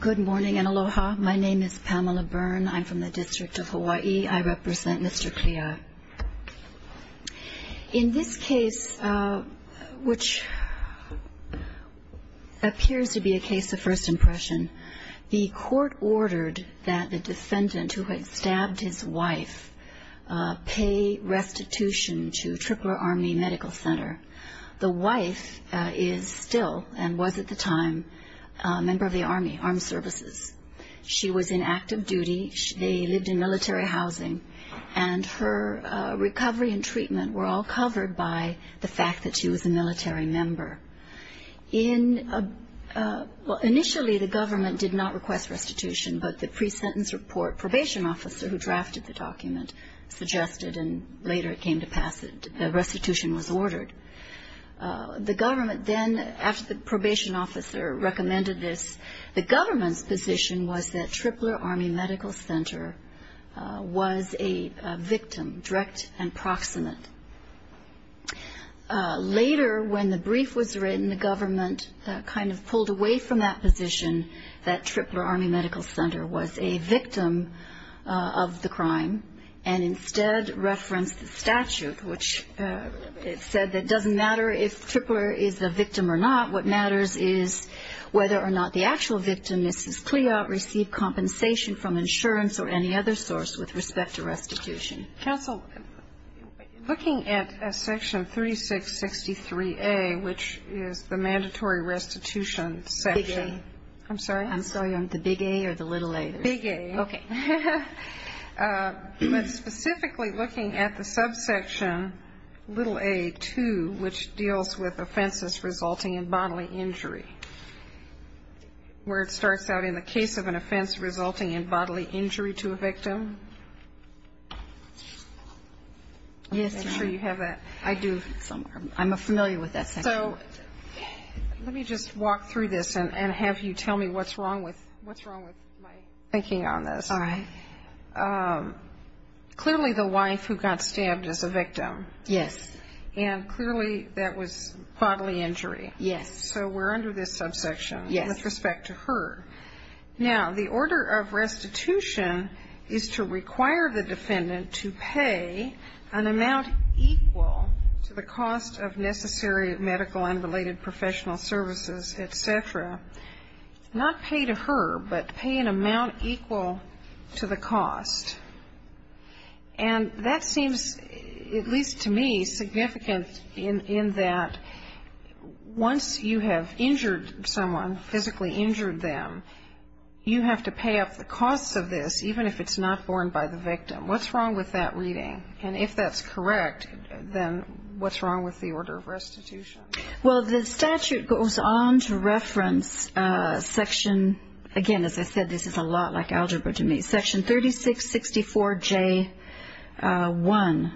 Good morning and aloha. My name is Pamela Byrne. I'm from the District of Hawaii. I represent Mr. Cliatt. In this case, which appears to be a case of first impression, the court ordered that the defendant, who had stabbed his wife, pay restitution to Tripler Army Medical Center. The wife is still, and was at the time, a member of the Army Armed Services. She was in active duty. They lived in military housing, and her recovery and treatment were all covered by the fact that she was a military member. Initially, the government did not request restitution, but the pre-sentence report, probation officer who drafted the document suggested, and later it came to pass, restitution was ordered. The government then, after the probation officer recommended this, the government's position was that Tripler Army Medical Center was a victim, direct and proximate. Later, when the brief was written, the government kind of pulled away from that position, that Tripler Army Medical Center was a victim of the crime, and instead referenced the statute, which said that it doesn't matter if Tripler is a victim or not. What matters is whether or not the actual victim, Mrs. Cliatt, received compensation from insurance or any other source with respect to restitution. Counsel, looking at Section 3663A, which is the mandatory restitution section. Big A. I'm sorry? I'm sorry. The big A or the little A? Big A. Okay. But specifically looking at the subsection little A-2, which deals with offenses resulting in bodily injury, where it starts out in the case of an offense resulting in bodily injury to a victim. Yes, I'm sure you have that. I do somewhere. I'm familiar with that section. So let me just walk through this and have you tell me what's wrong with my thinking on this. All right. Clearly the wife who got stabbed is a victim. Yes. And clearly that was bodily injury. Yes. So we're under this subsection with respect to her. Now, the order of restitution is to require the defendant to pay an amount equal to the cost of necessary medical and related professional services, et cetera. Not pay to her, but pay an amount equal to the cost. And that seems, at least to me, significant in that once you have injured someone, physically injured them, you have to pay up the costs of this, even if it's not borne by the victim. What's wrong with that reading? And if that's correct, then what's wrong with the order of restitution? Well, the statute goes on to reference section, again, as I said, this is a lot like algebra to me, section 3664J1,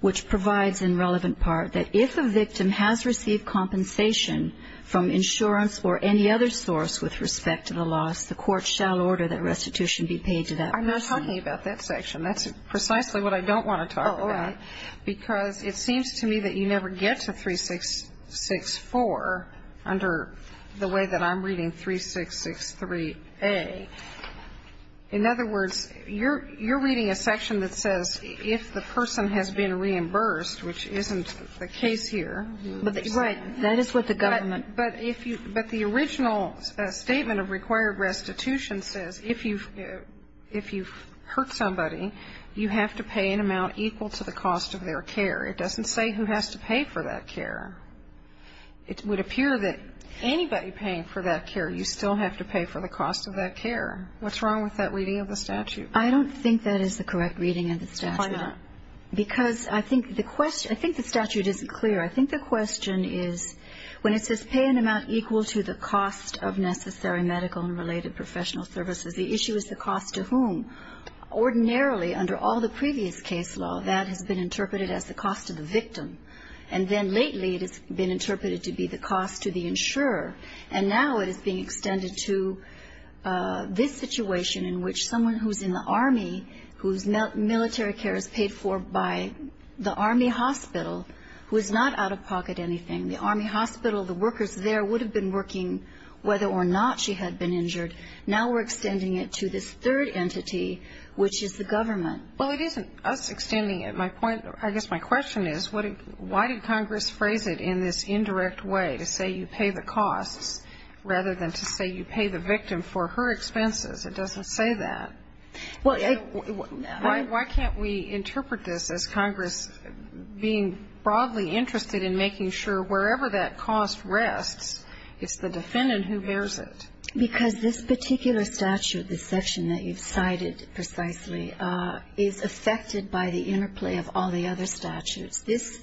which provides, in relevant part, that if a victim has received compensation from insurance or any other source with respect to the loss, the court shall order that restitution be paid to that person. I'm not talking about that section. That's precisely what I don't want to talk about, because it seems to me that you never get to 3664 under the way that I'm reading 3663A. In other words, you're reading a section that says if the person has been reimbursed, which isn't the case here. Right. That is what the government... But the original statement of required restitution says if you've hurt somebody, you have to pay an amount equal to the cost of their care. It doesn't say who has to pay for that care. It would appear that anybody paying for that care, you still have to pay for the cost of that care. What's wrong with that reading of the statute? I don't think that is the correct reading of the statute. Then why not? Because I think the statute isn't clear. I think the question is when it says pay an amount equal to the cost of necessary medical and related professional services, the issue is the cost to whom. Ordinarily, under all the previous case law, that has been interpreted as the cost to the victim. And then lately, it has been interpreted to be the cost to the insurer. And now it is being extended to this situation in which someone who's in the Army, whose military care is paid for by the Army hospital, who is not out-of-pocket anything. The Army hospital, the workers there would have been working whether or not she had been injured. Now we're extending it to this third entity, which is the government. Well, it isn't us extending it. My point, I guess my question is, why did Congress phrase it in this indirect way, to say you pay the costs, rather than to say you pay the victim for her expenses? It doesn't say that. Well, I don't know. Why can't we interpret this as Congress being broadly interested in making sure wherever that cost rests, it's the defendant who bears it? Because this particular statute, this section that you've cited precisely, is affected by the interplay of all the other statutes. This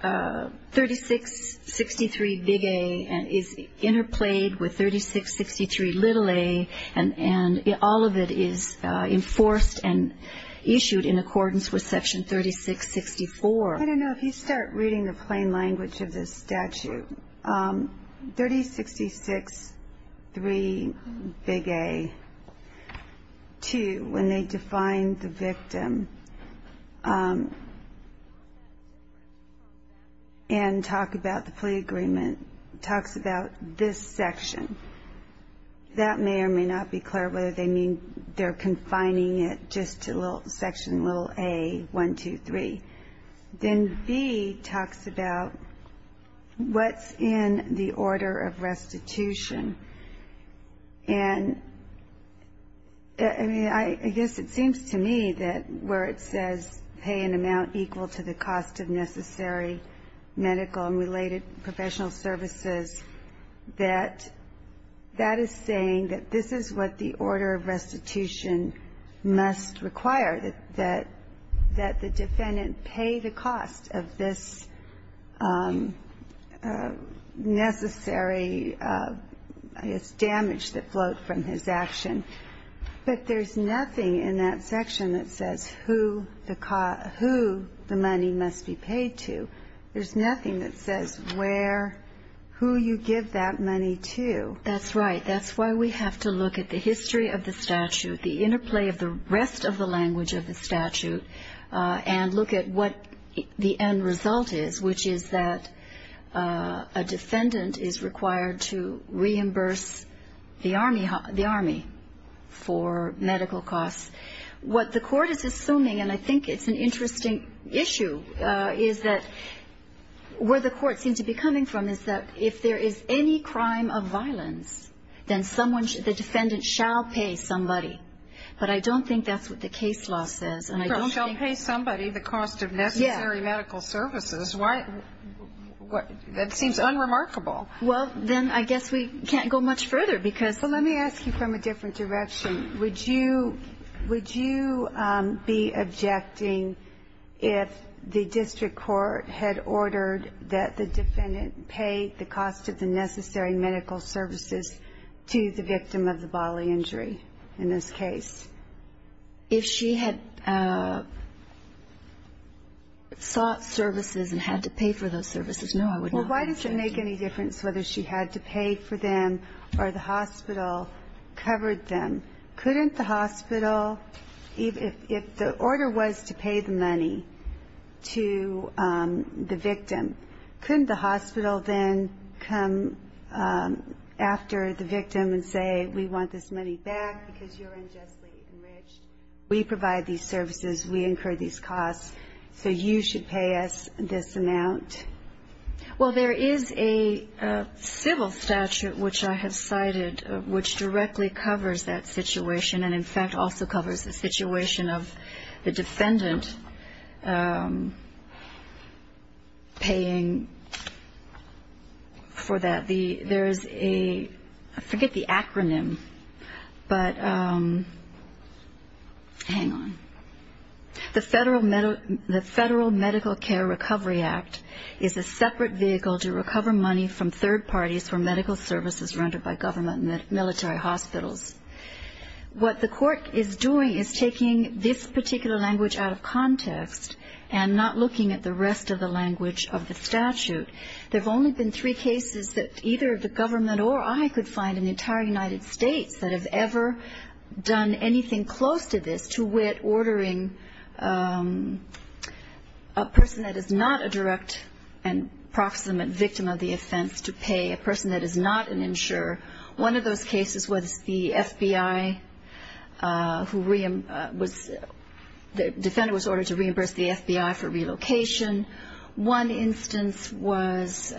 3663 Big A is interplayed with 3663 Little A, and all of it is enforced and issued in accordance with Section 3664. I don't know. If you start reading the plain language of this statute, 3663 Big A, 2, when they define the victim and talk about the plea agreement, talks about this section. That may or may not be clear whether they mean they're confining it just to Section Little A, 1, 2, 3. Then B talks about what's in the order of restitution, and I guess it seems to me that where it says pay an amount equal to the cost of necessary medical and related professional services, that that is saying that this is what the order of restitution must require, that the defendant pay the cost of this necessary, I guess, damage that flowed from his action. But there's nothing in that section that says who the money must be paid to. There's nothing that says where, who you give that money to. That's right. That's why we have to look at the history of the statute, the interplay of the rest of the language of the statute, and look at what the end result is, which is that a defendant is required to reimburse the Army for medical costs. What the Court is assuming, and I think it's an interesting issue, is that where the Court seems to be of violence, then someone, the defendant shall pay somebody. But I don't think that's what the case law says, and I don't think... Don't pay somebody the cost of necessary medical services. Why? That seems unremarkable. Well, then I guess we can't go much further, because... Well, let me ask you from a different direction. Would you be objecting if the district court had ordered that the defendant pay the cost of the necessary medical services to the victim of the bodily injury in this case? If she had sought services and had to pay for those services, no, I would not object. Well, why does it make any difference whether she had to pay for them or the hospital the victim? Couldn't the hospital then come after the victim and say, we want this money back because you're unjustly enriched? We provide these services, we incur these costs, so you should pay us this amount. Well, there is a civil statute, which I have cited, which directly covers that situation, and in fact also covers the situation of the defendant paying for that. There is a... I forget the acronym, but... Hang on. The Federal Medical Care Recovery Act is a separate vehicle to recover money from third parties for medical services rendered by government and military hospitals. What the court is doing is taking this particular language out of context and not looking at the rest of the language of the statute. There have only been three cases that either the government or I could find in the entire United States that have ever done anything close to this to wit ordering a person that is not a direct and proximate victim of the offense to pay, a person that is not an insurer. One of those cases was the FBI who was... The defendant was ordered to reimburse the FBI for relocation. One instance was...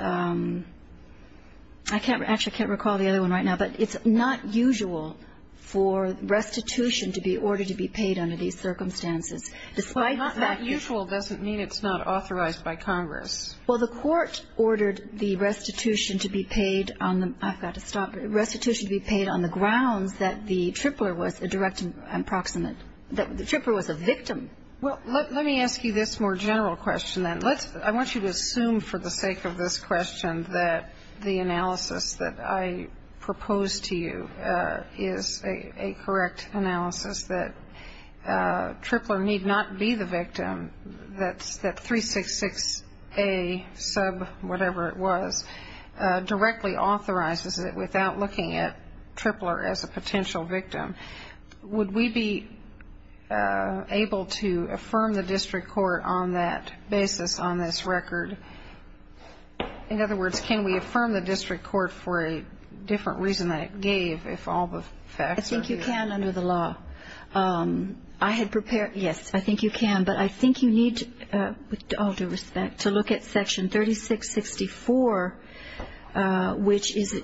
I actually can't recall the other one right now, but it's not usual for restitution to be ordered to be paid under these circumstances. Despite that... But not usual doesn't mean it's not authorized by Congress. Well, the court ordered the restitution to be paid on the... I've got to stop. Restitution to be paid on the grounds that the tripler was a direct and proximate, that the tripler was a victim. Well, let me ask you this more general question then. I want you to assume for the sake of this question that the analysis that I propose to you is a correct analysis, that tripler need not be the victim, that 366A sub whatever it was, directly authorizes it without looking at tripler as a potential victim. Would we be able to affirm the district court on that basis on this record? In other words, can we affirm the district court for a different reason than it gave if all the facts are here? I think you can under the law. I had prepared... Yes, I think you can. But I think you need, with all due respect, to look at Section 3664, which is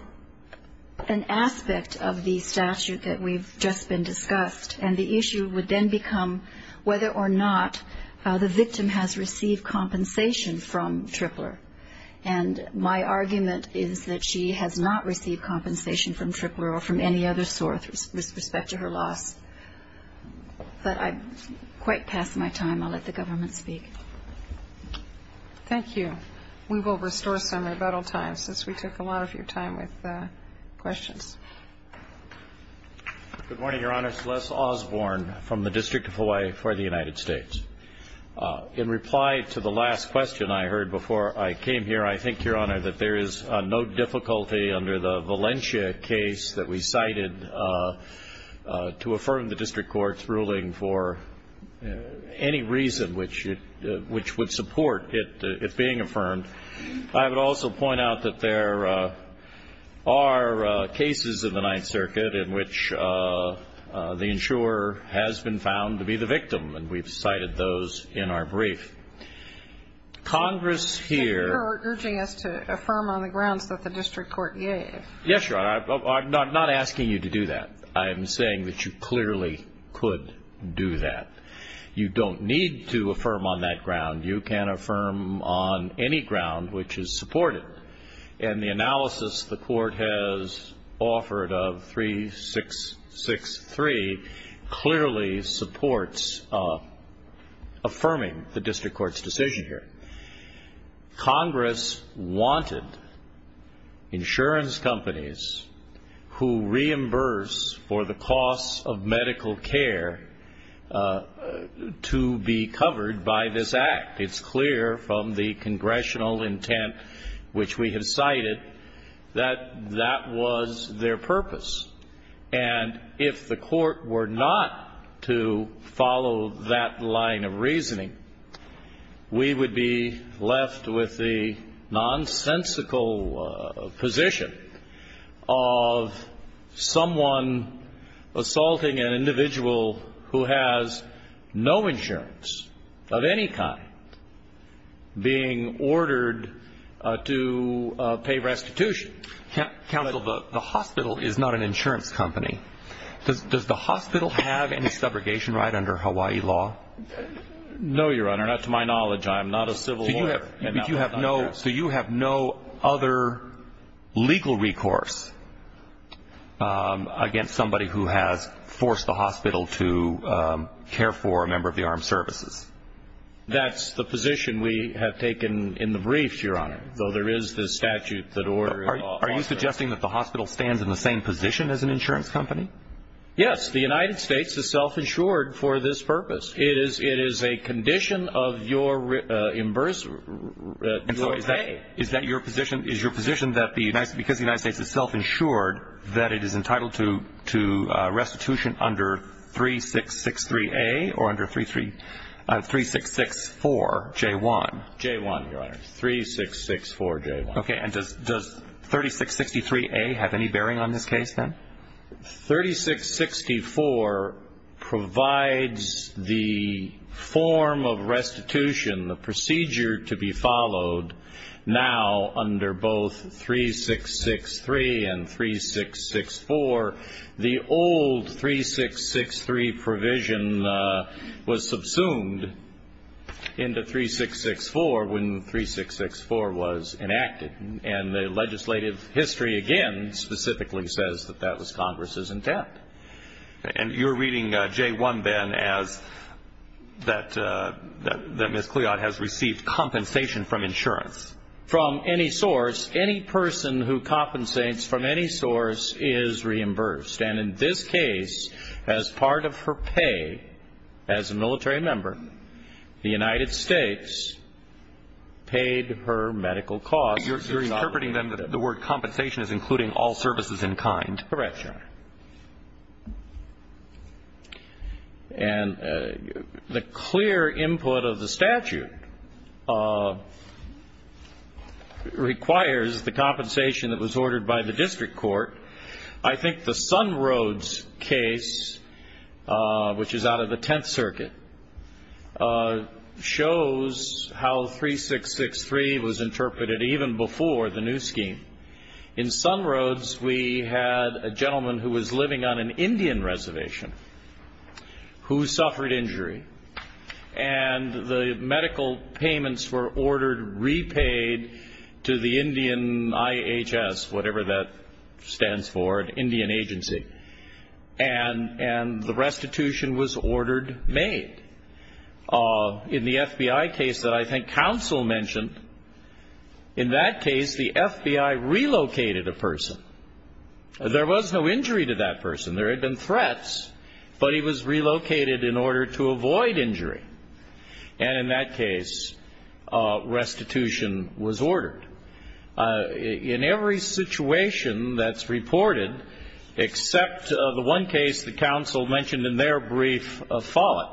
an aspect of the statute that we've just been discussed. And the issue would then become whether or not the victim has received compensation from tripler. And my argument is that she has not received compensation from tripler or from any other source with respect to her loss. But I've quite passed my time. I'll let the government speak. Thank you. We will restore some in about all time since we took a lot of your time with questions. Good morning, Your Honor. It's Les Osborne from the District of Hawaii for the United States. In reply to the last question I heard before I came here, I think, Your Honor, that there is no difficulty under the Valencia case that we cited to affirm the district court's ruling for any reason which would support it being affirmed. I would also point out that there are cases in the Ninth Circuit in which the insurer has been found to be the victim, and we've cited those in our brief. Congress here... You're urging us to affirm on the grounds that the district court gave. Yes, Your Honor. I'm not asking you to do that. I'm saying that you clearly could do that. You don't need to affirm on that ground. You can affirm on any ground which is supported. And the analysis the court has offered of 3663 clearly supports affirming the district court's decision here. Congress wanted insurance companies who reimburse for the cost of medical care to be covered by this act. It's clear from the congressional intent which we have cited that that was their purpose. And if the court were not to follow that line of reasoning, we would be left with the nonsensical position of someone assaulting an individual who has no insurance of any kind being ordered to pay restitution. Counsel, the hospital is not an insurance company. Does the hospital have any subrogation right under Hawaii law? No, Your Honor. Not to my knowledge. I am not a civil lawyer. So you have no other legal recourse against somebody who has forced the hospital to care for a member of the armed services? That's the position we have taken in the brief, Your Honor, though there is the statute that orders it. Are you suggesting that the hospital stands in the same position as an insurance company? Yes. The United States is self-insured for this purpose. It is a condition of your reimbursement. And so is that your position? Is your position that because the United States is self-insured, that it is entitled to restitution under 3663A or under 3664J1? J1, Your Honor. 3664J1. Okay. And does 3663A have any bearing on this case, then? 3664 provides the form of restitution, the procedure to be followed now under both 3663 and 3664. However, the old 3663 provision was subsumed into 3664 when 3664 was enacted. And the legislative history, again, specifically says that that was Congress's intent. And you're reading J1, then, as that Ms. Cleod has received compensation from insurance? From any source. Any person who compensates from any source is reimbursed. And in this case, as part of her pay as a military member, the United States paid her medical costs. You're interpreting, then, that the word compensation is including all services in kind. Correct, Your Honor. And the clear input of the statute requires the compensation that was ordered by the district court. I think the Sunroads case, which is out of the Tenth Circuit, shows how 3663 was interpreted even before the new scheme. In Sunroads, we had a gentleman who was living on an Indian reservation who suffered injury. And the medical payments were ordered repaid to the Indian IHS, whatever that stands for, an Indian agency. And the restitution was ordered made. In the FBI case that I think counsel mentioned, in that case, the FBI relocated a person. There was no injury to that person. There had been threats, but he was relocated in order to avoid injury. And in that case, restitution was ordered. In every situation that's reported, except the one case the counsel mentioned in their brief of Follett,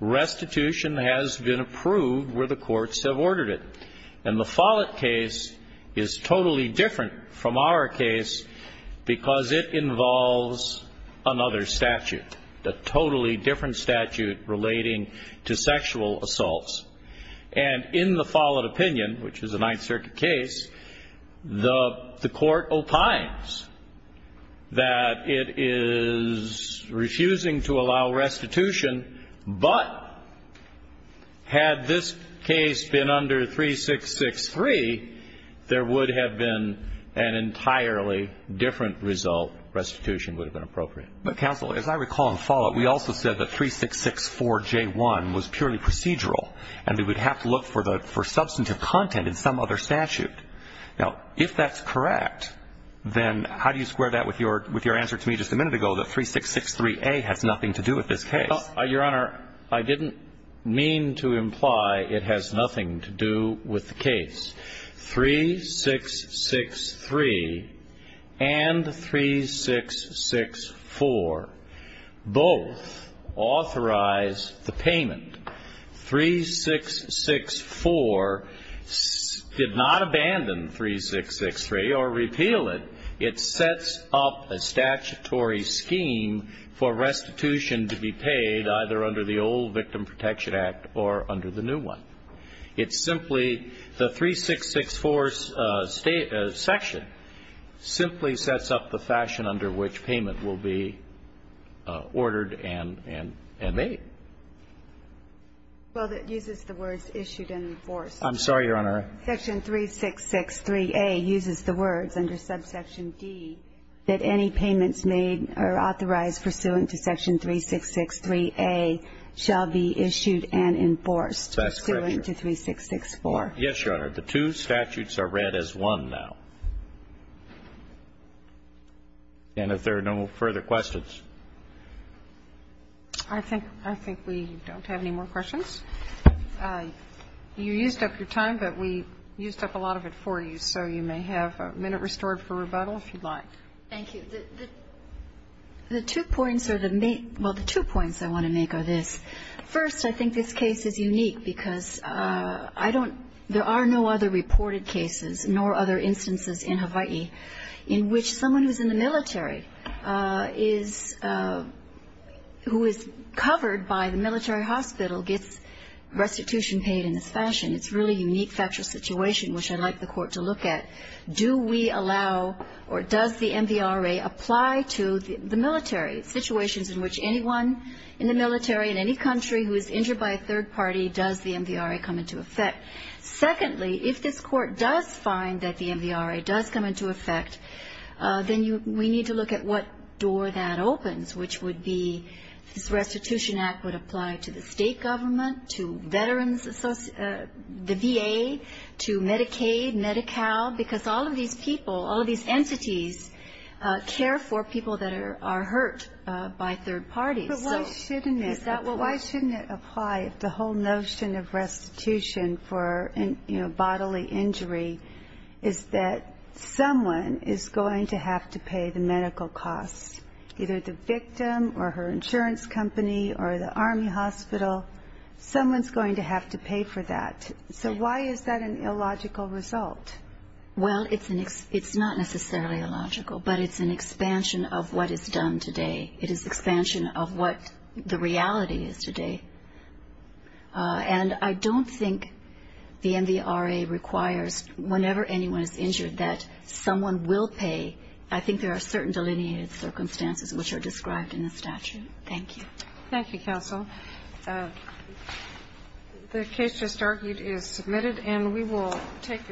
restitution has been approved where the courts have ordered it. And the Follett case is totally different from our case because it involves another statute, a totally different statute relating to sexual assaults. And in the Follett opinion, which is a Ninth Circuit case, the court opines that it is refusing to allow restitution. But had this case been under 3663, there would have been an entirely different result. Restitution would have been appropriate. But, counsel, as I recall in Follett, we also said that 3664J1 was purely procedural and we would have to look for substantive content in some other statute. Now, if that's correct, then how do you square that with your answer to me just a minute ago that 3663A has nothing to do with this case? Your Honor, I didn't mean to imply it has nothing to do with the case. 3663 and 3664 both authorize the payment. 3664 did not abandon 3663 or repeal it. It sets up a statutory scheme for restitution to be paid either under the old Victim Protection Act or under the new one. It simply the 3664 section simply sets up the fashion under which payment will be ordered and made. Well, it uses the words issued and enforced. I'm sorry, Your Honor. Section 3663A uses the words under subsection D that any payments made or authorized pursuant to section 3663A shall be issued and enforced pursuant to 3664. Yes, Your Honor. The two statutes are read as one now. And if there are no further questions. I think we don't have any more questions. You used up your time, but we used up a lot of it for you. So you may have a minute restored for rebuttal if you'd like. Thank you. The two points I want to make are this. First, I think this case is unique because I don't ‑‑ there are no other reported cases nor other instances in Hawaii in which someone who's in the military is ‑‑ who is covered by the military hospital gets restitution paid in this fashion. It's a really unique factual situation, which I'd like the Court to look at. Do we allow or does the MVRA apply to the military, situations in which anyone in the military, in any country who is injured by a third party, does the MVRA come into effect? Secondly, if this Court does find that the MVRA does come into effect, then we need to look at what door that opens, which would be if this Restitution Act would apply to the state government, to veterans, the VA, to Medicaid, Medi-Cal, because all of these people, all of these entities care for people that are hurt by third parties. But why shouldn't it apply if the whole notion of restitution for bodily injury is that someone is going to have to pay the medical costs, either the victim or her insurance company or the Army hospital. Someone's going to have to pay for that. So why is that an illogical result? Well, it's not necessarily illogical, but it's an expansion of what is done today. It is expansion of what the reality is today. And I don't think the MVRA requires whenever anyone is injured that someone will pay. I think there are certain delineated circumstances which are described in the statute. Thank you. Thank you, counsel. The case just argued is submitted, and we will take it.